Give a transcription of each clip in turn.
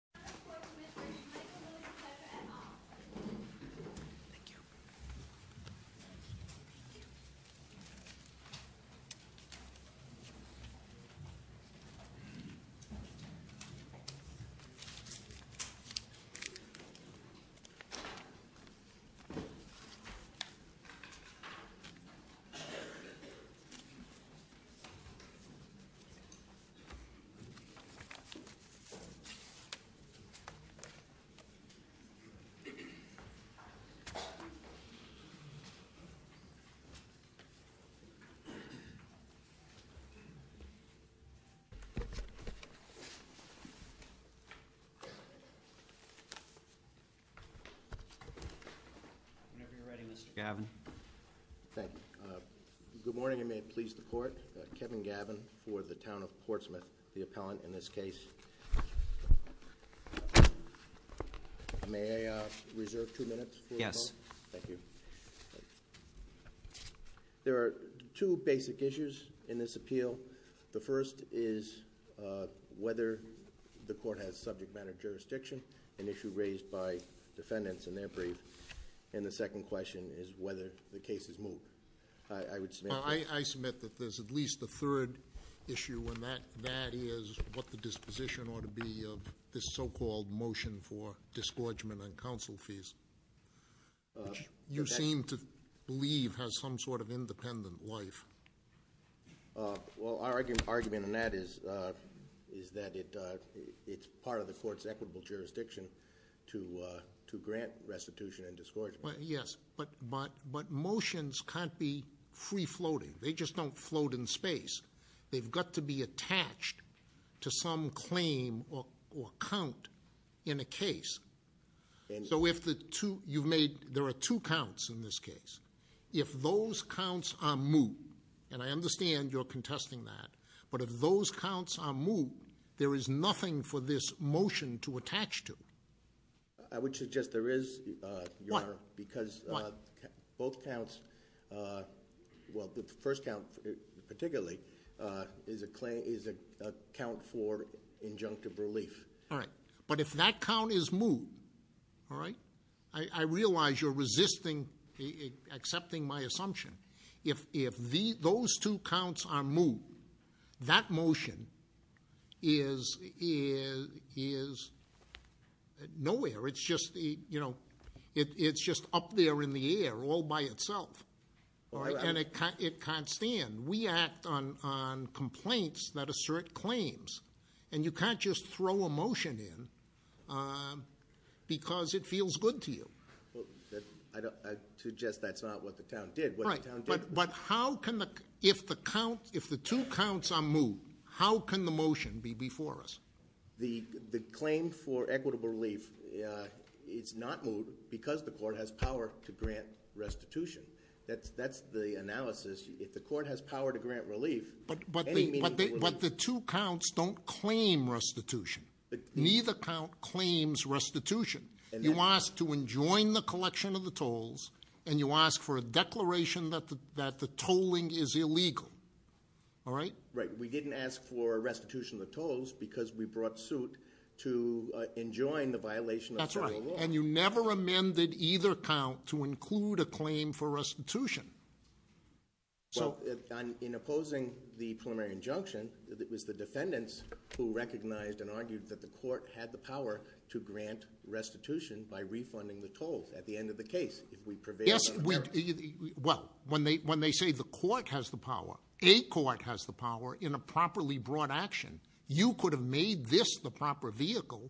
and Michael Lewis, pleasure, et al. Thank you. Whenever you're ready, Mr. Gavin. Thank you. Good morning and may it please the court. Kevin Gavin for the town of Portsmouth, the appellant in this case. May I reserve two minutes? Yes. Thank you. There are two basic issues in this appeal. The first is whether the court has subject matter jurisdiction, an issue raised by defendants in their brief. And the second question is whether the case is moved. I submit that there's at least a third issue, and that is what the disposition ought to be of this so-called motion for disgorgement and counsel fees, which you seem to believe has some sort of independent life. Well, our argument on that is that it's part of the court's equitable jurisdiction to grant restitution and disgorgement. Yes, but motions can't be free-floating. They just don't float in space. They've got to be attached to some claim or count in a case. So if the two, you've made, there are two counts in this case. If those counts are moot, and I understand you're contesting that, but if those counts are moot, there is nothing for this motion to attach to. I would suggest there is, Your Honor. Why? Because both counts, well the first count particularly, is a count for injunctive relief. All right. But if that count is moot, all right, I realize you're resisting, accepting my assumption. If those two counts are moot, that motion is nowhere. It's just up there in the air all by itself, and it can't stand. We act on complaints that assert claims, and you can't just throw a motion in because it feels good to you. I suggest that's not what the town did. Right, but how can the, if the two counts are moot, how can the motion be before us? The claim for equitable relief is not moot because the court has power to grant restitution. That's the analysis. If the court has power to grant relief, any meaningful relief- But the two counts don't claim restitution. Neither count claims restitution. You ask to enjoin the collection of the tolls, and you ask for a declaration that the tolling is illegal. All right? Right. We didn't ask for restitution of the tolls because we brought suit to enjoin the violation of federal law. That's right, and you never amended either count to include a claim for restitution. Well, in opposing the preliminary injunction, it was the defendants who recognized and argued that the court had the power to grant restitution by refunding the tolls at the end of the case. Yes, well, when they say the court has the power, a court has the power in a properly brought action. You could have made this the proper vehicle,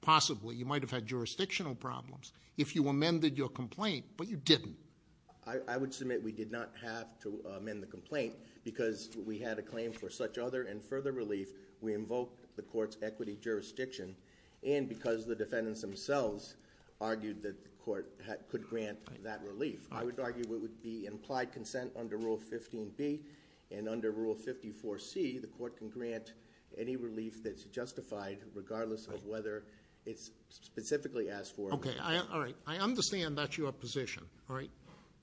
possibly. You might have had jurisdictional problems if you amended your complaint, but you didn't. I would submit we did not have to amend the complaint because we had a claim for such other and further relief. We invoked the court's equity jurisdiction, and because the defendants themselves argued that the court could grant that relief. I would argue it would be implied consent under Rule 15B, and under Rule 54C, the court can grant any relief that's justified regardless of whether it's specifically asked for or not. Okay, all right, I understand that's your position, all right?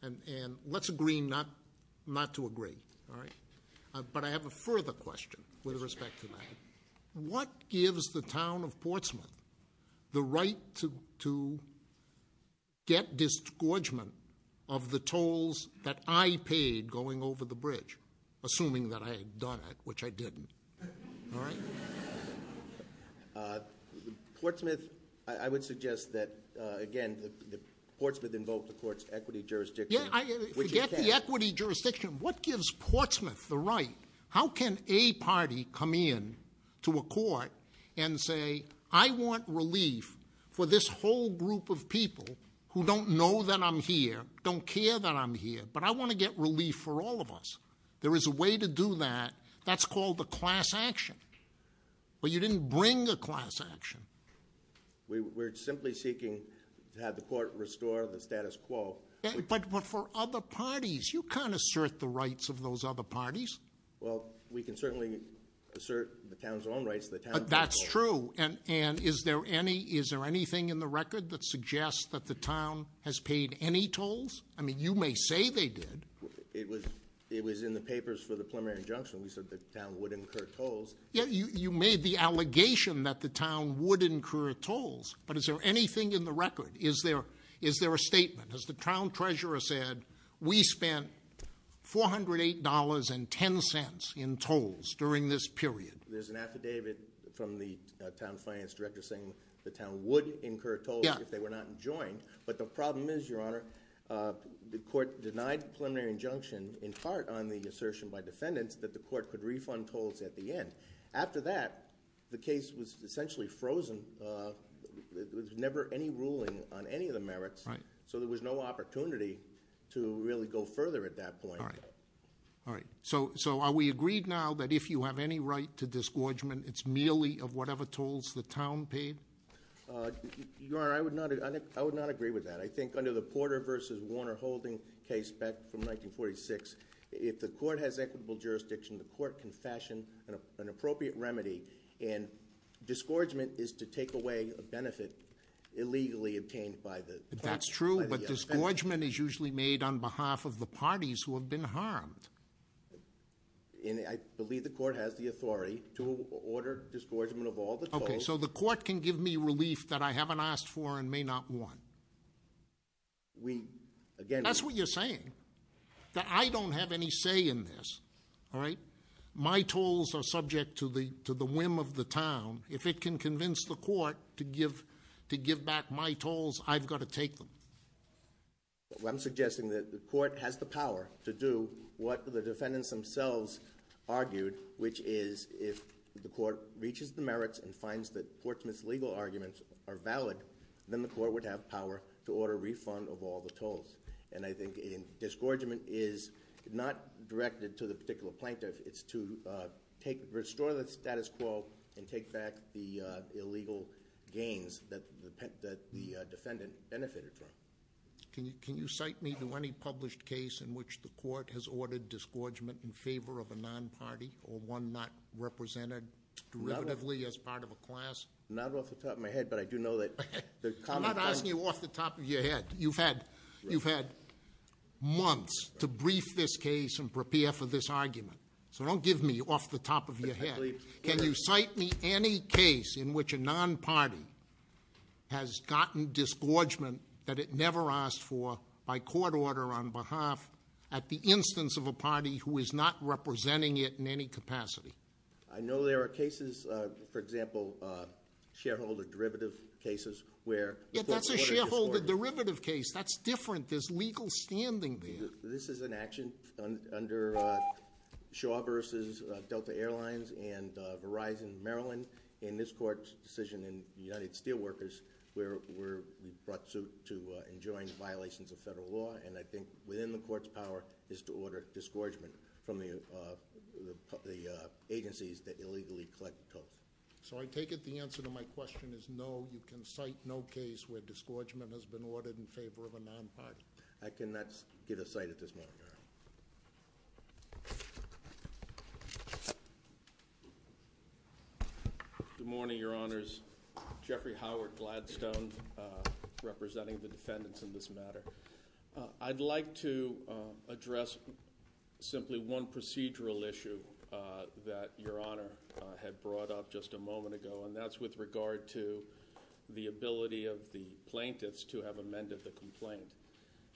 And let's agree not to agree, all right? But I have a further question with respect to that. What gives the town of Portsmouth the right to get disgorgement of the tolls that I paid going over the bridge, assuming that I had done it, which I didn't, all right? Portsmouth, I would suggest that, again, Portsmouth invoked the court's equity jurisdiction. Yeah, forget the equity jurisdiction. What gives Portsmouth the right? How can a party come in to a court and say, I want relief for this whole group of people who don't know that I'm here, don't care that I'm here, but I want to get relief for all of us. There is a way to do that. That's called a class action. But you didn't bring a class action. We're simply seeking to have the court restore the status quo. But for other parties, you can't assert the rights of those other parties. Well, we can certainly assert the town's own rights. That's true. And is there anything in the record that suggests that the town has paid any tolls? I mean, you may say they did. It was in the papers for the preliminary injunction. We said the town would incur tolls. Yeah, you made the allegation that the town would incur tolls. But is there anything in the record? Is there a statement? Has the town treasurer said, we spent $408.10 in tolls during this period? There's an affidavit from the town finance director saying the town would incur tolls if they were not enjoined. But the problem is, Your Honor, the court denied the preliminary injunction in part on the assertion by defendants that the court could refund tolls at the end. After that, the case was essentially frozen. There was never any ruling on any of the merits. So there was no opportunity to really go further at that point. All right. So are we agreed now that if you have any right to disgorgement, it's merely of whatever tolls the town paid? Your Honor, I would not agree with that. I think under the Porter v. Warner holding case back from 1946, if the court has equitable jurisdiction, the court can fashion an appropriate remedy. And disgorgement is to take away a benefit illegally obtained by the defendants. That's true, but disgorgement is usually made on behalf of the parties who have been harmed. And I believe the court has the authority to order disgorgement of all the tolls. Okay, so the court can give me relief that I haven't asked for and may not want. We, again- That's what you're saying. I don't have any say in this. All right? My tolls are subject to the whim of the town. If it can convince the court to give back my tolls, I've got to take them. I'm suggesting that the court has the power to do what the defendants themselves argued, which is if the court reaches the merits and finds that Portsmouth's legal arguments are valid, then the court would have power to order a refund of all the tolls. And I think disgorgement is not directed to the particular plaintiff. It's to restore the status quo and take back the illegal gains that the defendant benefited from. Can you cite me to any published case in which the court has ordered disgorgement in favor of a non-party, or one not represented derivatively as part of a class? Not off the top of my head, but I do know that the common- I'm not asking you off the top of your head. You've had months to brief this case and prepare for this argument. So don't give me off the top of your head. Can you cite me any case in which a non-party has gotten disgorgement that it never asked for by court order on behalf at the instance of a party who is not representing it in any capacity? I know there are cases, for example, shareholder derivative cases where- Yeah, that's a shareholder derivative case. That's different. There's legal standing there. This is an action under Shaw versus Delta Airlines and Verizon Maryland. In this court's decision in United Steelworkers, we brought suit to enjoin violations of federal law. And I think within the court's power is to order disgorgement from the agencies that illegally collect tolls. So I take it the answer to my question is no. You can cite no case where disgorgement has been ordered in favor of a non-party. I cannot get a cite at this moment, Your Honor. Good morning, Your Honors. Jeffrey Howard Gladstone representing the defendants in this matter. I'd like to address simply one procedural issue that Your Honor had brought up just a moment ago, and that's with regard to the ability of the plaintiffs to have amended the complaint.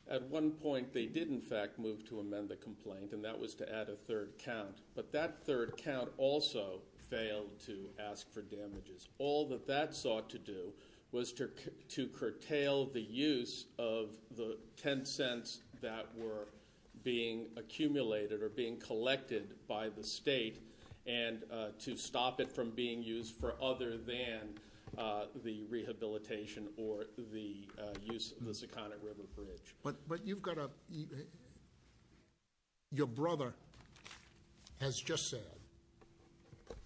At one point they did, in fact, move to amend the complaint, and that was to add a third count. But that third count also failed to ask for damages. All that that sought to do was to curtail the use of the $0.10 that were being accumulated or being collected by the state and to stop it from being used for other than the rehabilitation or the use of the Seconic River Bridge. But you've got to, your brother has just said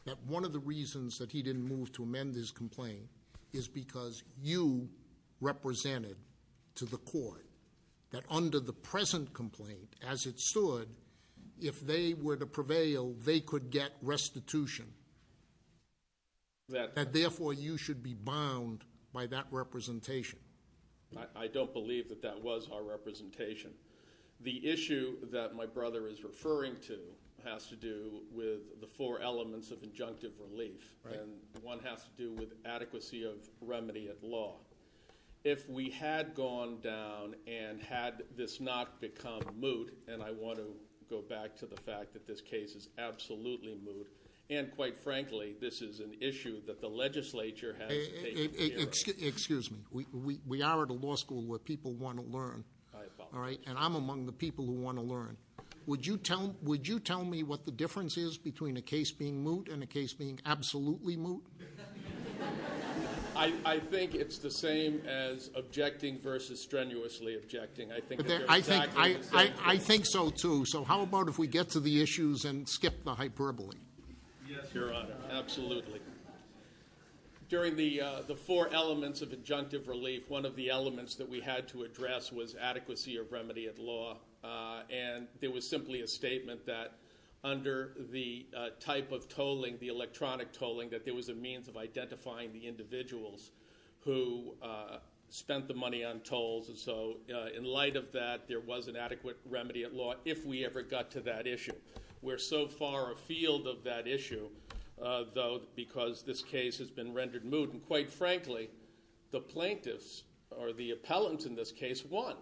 that one of the reasons that he didn't move to amend his complaint is because you represented to the court that under the present complaint as it stood, if they were to prevail, they could get restitution. That therefore you should be bound by that representation. I don't believe that that was our representation. The issue that my brother is referring to has to do with the four elements of injunctive relief. And one has to do with adequacy of remedy at law. If we had gone down and had this not become moot, and I want to go back to the fact that this case is absolutely moot, and quite frankly this is an issue that the legislature has taken care of. Excuse me. We are at a law school where people want to learn. I apologize. And I'm among the people who want to learn. Would you tell me what the difference is between a case being moot and a case being absolutely moot? I think it's the same as objecting versus strenuously objecting. I think they're exactly the same. I think so, too. So how about if we get to the issues and skip the hyperbole? Yes, Your Honor. Absolutely. During the four elements of injunctive relief, one of the elements that we had to address was adequacy of remedy at law. And there was simply a statement that under the type of tolling, the electronic tolling, that there was a means of identifying the individuals who spent the money on tolls. And so in light of that, there was an adequate remedy at law if we ever got to that issue. We're so far afield of that issue, though, because this case has been rendered moot. And quite frankly, the plaintiffs, or the appellants in this case, won.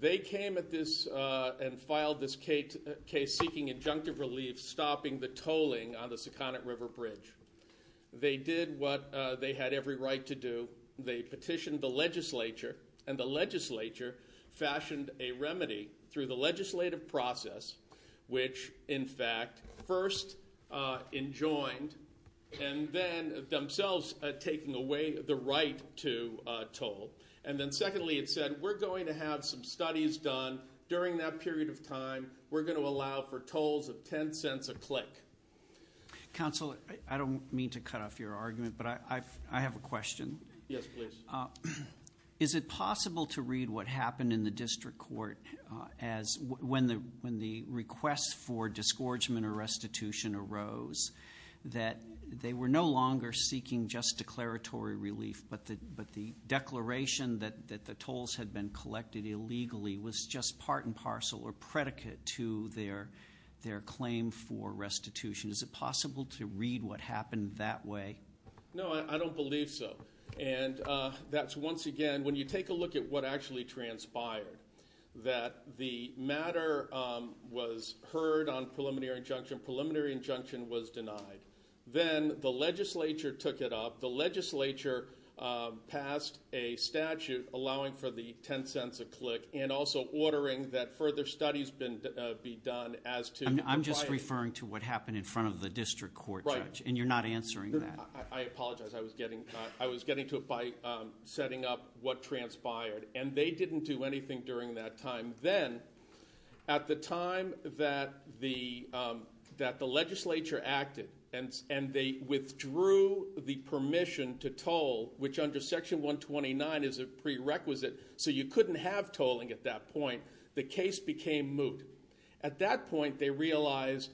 They came at this and filed this case seeking injunctive relief, stopping the tolling on the Seconic River Bridge. They did what they had every right to do. They petitioned the legislature, and the legislature fashioned a remedy through the legislative process, which, in fact, first enjoined and then themselves taking away the right to toll. And then secondly, it said, we're going to have some studies done during that period of time. We're going to allow for tolls of $0.10 a click. Counsel, I don't mean to cut off your argument, but I have a question. Yes, please. Is it possible to read what happened in the district court as when the request for disgorgement or restitution arose, that they were no longer seeking just declaratory relief, but the declaration that the tolls had been collected illegally was just part and parcel or predicate to their claim for restitution? Is it possible to read what happened that way? No, I don't believe so. And that's, once again, when you take a look at what actually transpired, that the matter was heard on preliminary injunction. Preliminary injunction was denied. Then the legislature took it up. The legislature passed a statute allowing for the $0.10 a click and also ordering that further studies be done as to the right. I'm just referring to what happened in front of the district court, Judge, and you're not answering that. I apologize. I was getting to it by setting up what transpired, and they didn't do anything during that time. Then, at the time that the legislature acted and they withdrew the permission to toll, which under Section 129 is a prerequisite, so you couldn't have tolling at that point, the case became moot. At that point, they realized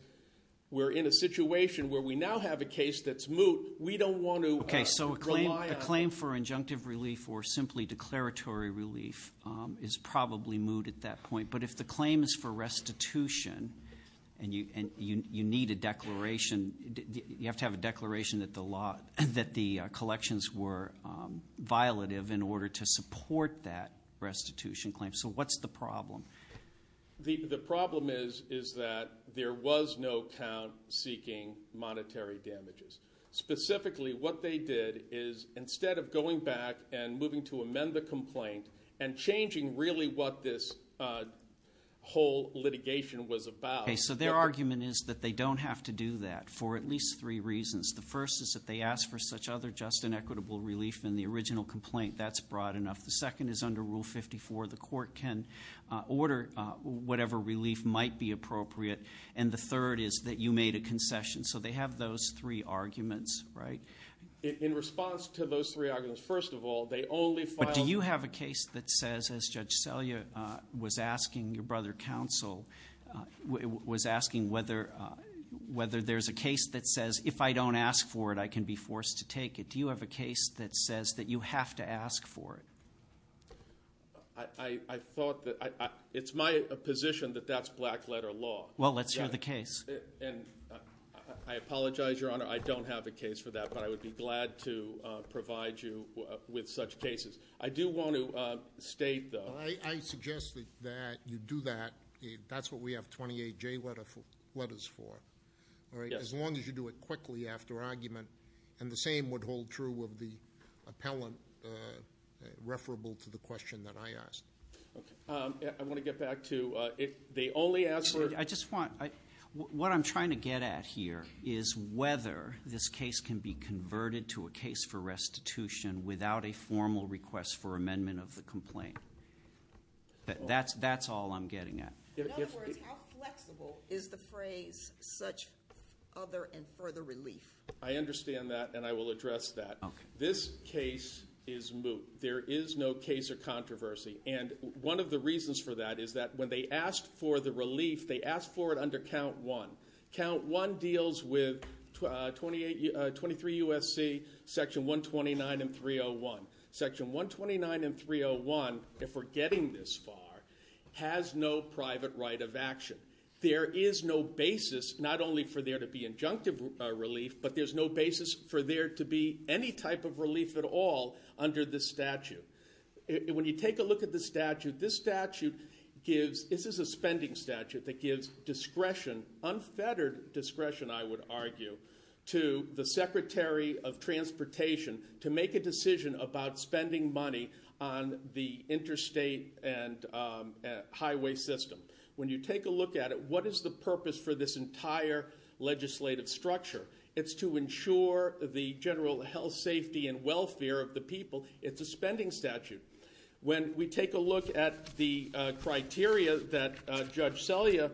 we're in a situation where we now have a case that's moot. We don't want to rely on it. or simply declaratory relief is probably moot at that point. But if the claim is for restitution and you need a declaration, you have to have a declaration that the collections were violative in order to support that restitution claim. So what's the problem? The problem is that there was no count seeking monetary damages. Specifically, what they did is instead of going back and moving to amend the complaint and changing really what this whole litigation was about. Okay, so their argument is that they don't have to do that for at least three reasons. The first is that they ask for such other just and equitable relief in the original complaint. That's broad enough. The second is under Rule 54, the court can order whatever relief might be appropriate. And the third is that you made a concession. So they have those three arguments, right? In response to those three arguments, first of all, they only filed. But do you have a case that says, as Judge Selya was asking your brother, Counsel, was asking whether there's a case that says if I don't ask for it, I can be forced to take it. Do you have a case that says that you have to ask for it? I thought that it's my position that that's black letter law. Well, let's hear the case. And I apologize, Your Honor, I don't have a case for that. But I would be glad to provide you with such cases. I do want to state, though. I suggest that you do that. That's what we have 28 J letters for. All right? As long as you do it quickly after argument. And the same would hold true of the appellant referable to the question that I asked. Okay. I want to get back to if they only ask for it. What I'm trying to get at here is whether this case can be converted to a case for restitution without a formal request for amendment of the complaint. That's all I'm getting at. In other words, how flexible is the phrase such other and further relief? I understand that, and I will address that. This case is moot. There is no case or controversy. And one of the reasons for that is that when they asked for the relief, they asked for it under Count 1. Count 1 deals with 23 U.S.C. Section 129 and 301. Section 129 and 301, if we're getting this far, has no private right of action. There is no basis not only for there to be injunctive relief, but there's no basis for there to be any type of relief at all under this statute. When you take a look at this statute, this is a spending statute that gives discretion, unfettered discretion, I would argue, to the Secretary of Transportation to make a decision about spending money on the interstate and highway system. When you take a look at it, what is the purpose for this entire legislative structure? It's to ensure the general health, safety, and welfare of the people. It's a spending statute. When we take a look at the criteria that Judge Selya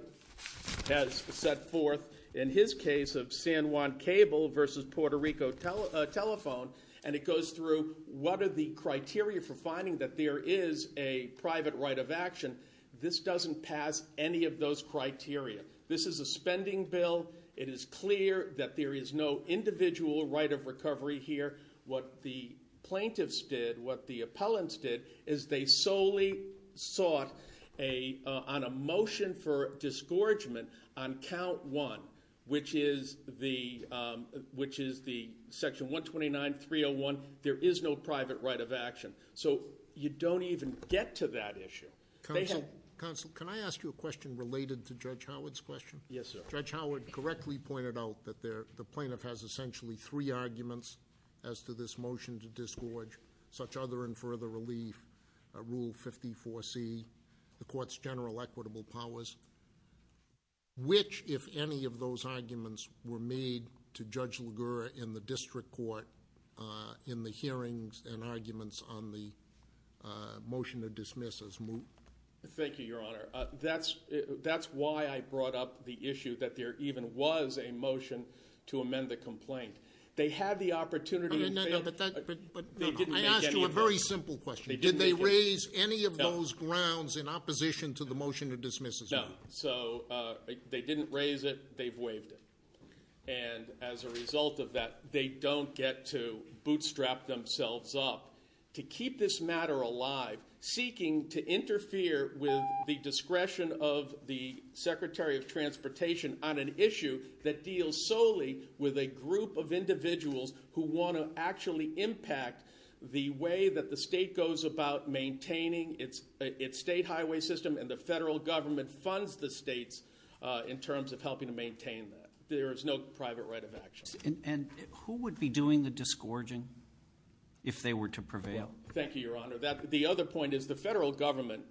has set forth in his case of San Juan Cable versus Puerto Rico Telephone, and it goes through what are the criteria for finding that there is a private right of action, this doesn't pass any of those criteria. This is a spending bill. It is clear that there is no individual right of recovery here. What the plaintiffs did, what the appellants did, is they solely sought on a motion for disgorgement on Count 1, which is the Section 129.301, there is no private right of action. So you don't even get to that issue. Counsel, can I ask you a question related to Judge Howard's question? Yes, sir. Judge Howard correctly pointed out that the plaintiff has essentially three arguments as to this motion to disgorge, such other and further relief, Rule 54C, the Court's general equitable powers, which if any of those arguments were made to Judge LaGuerre in the district court in the hearings and arguments on the motion to dismiss as moot? Thank you, Your Honor. That's why I brought up the issue that there even was a motion to amend the complaint. They had the opportunity to fail. I asked you a very simple question. Did they raise any of those grounds in opposition to the motion to dismiss as moot? No. So they didn't raise it. They've waived it. And as a result of that, they don't get to bootstrap themselves up to keep this matter alive, seeking to interfere with the discretion of the Secretary of Transportation on an issue that deals solely with a group of individuals who want to actually impact the way that the state goes about maintaining its state highway system and the federal government funds the states in terms of helping to maintain that. There is no private right of action. And who would be doing the disgorging if they were to prevail? Thank you, Your Honor. The other point is the federal government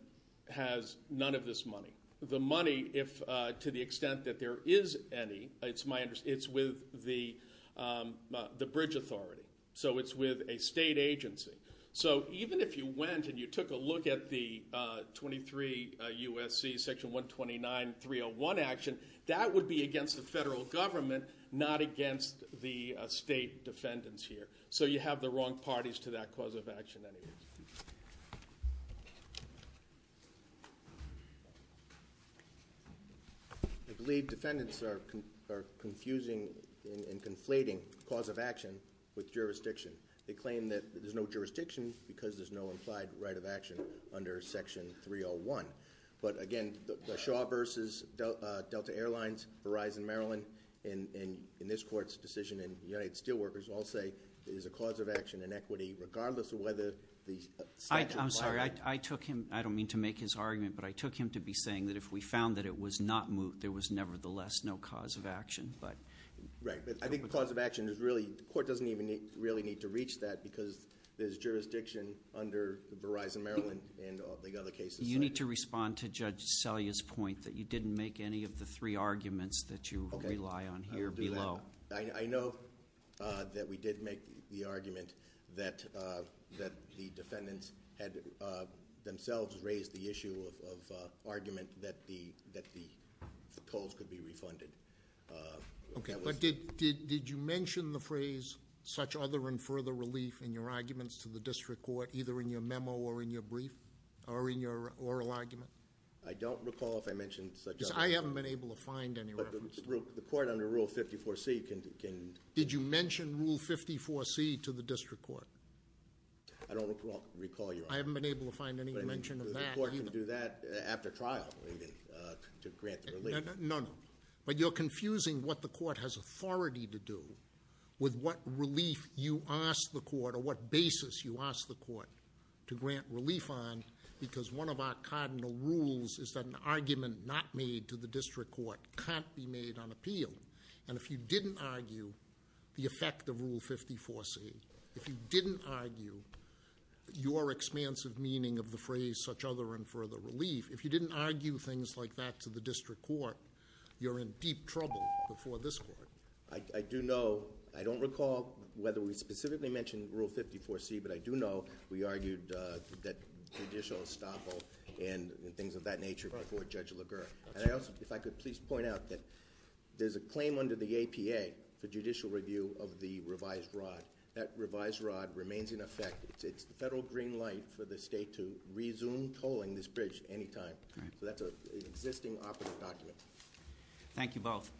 has none of this money. The money, to the extent that there is any, it's with the bridge authority. So it's with a state agency. So even if you went and you took a look at the 23 U.S.C. Section 129, 301 action, that would be against the federal government, not against the state defendants here. So you have the wrong parties to that cause of action anyway. I believe defendants are confusing and conflating cause of action with jurisdiction. They claim that there's no jurisdiction because there's no implied right of action under Section 301. But again, the Shaw versus Delta Airlines, Verizon Maryland, and in this court's decision in United Steelworkers, all say there's a cause of action in equity regardless of whether the statute applies. I'm sorry. I took him, I don't mean to make his argument, but I took him to be saying that if we found that it was not moot, there was nevertheless no cause of action. Right. I think the cause of action is really, the court doesn't even really need to reach that because there's jurisdiction under the Verizon Maryland and the other cases. You need to respond to Judge Selya's point that you didn't make any of the three arguments that you rely on here below. I know that we did make the argument that the defendants had themselves raised the issue of argument that the tolls could be refunded. Okay, but did you mention the phrase such other and further relief in your arguments to the district court, either in your memo or in your brief or in your oral argument? I don't recall if I mentioned such other- Because I haven't been able to find any reference. But the court under Rule 54C can- Did you mention Rule 54C to the district court? I don't recall your argument. I haven't been able to find any mention of that either. But the court can do that after trial to grant the relief. No, no, but you're confusing what the court has authority to do with what relief you ask the court or what basis you ask the court to grant relief on because one of our cardinal rules is that an argument not made to the district court can't be made on appeal. And if you didn't argue the effect of Rule 54C, if you didn't argue your expansive meaning of the phrase such other and further relief, if you didn't argue things like that to the district court, you're in deep trouble before this court. I do know, I don't recall whether we specifically mentioned Rule 54C, but I do know we argued that judicial estoppel and things of that nature before Judge LaGuerre. And I also, if I could please point out that there's a claim under the APA for judicial review of the revised rod. That revised rod remains in effect. It's the federal green light for the state to resume tolling this bridge anytime. So that's an existing operative document. Thank you both.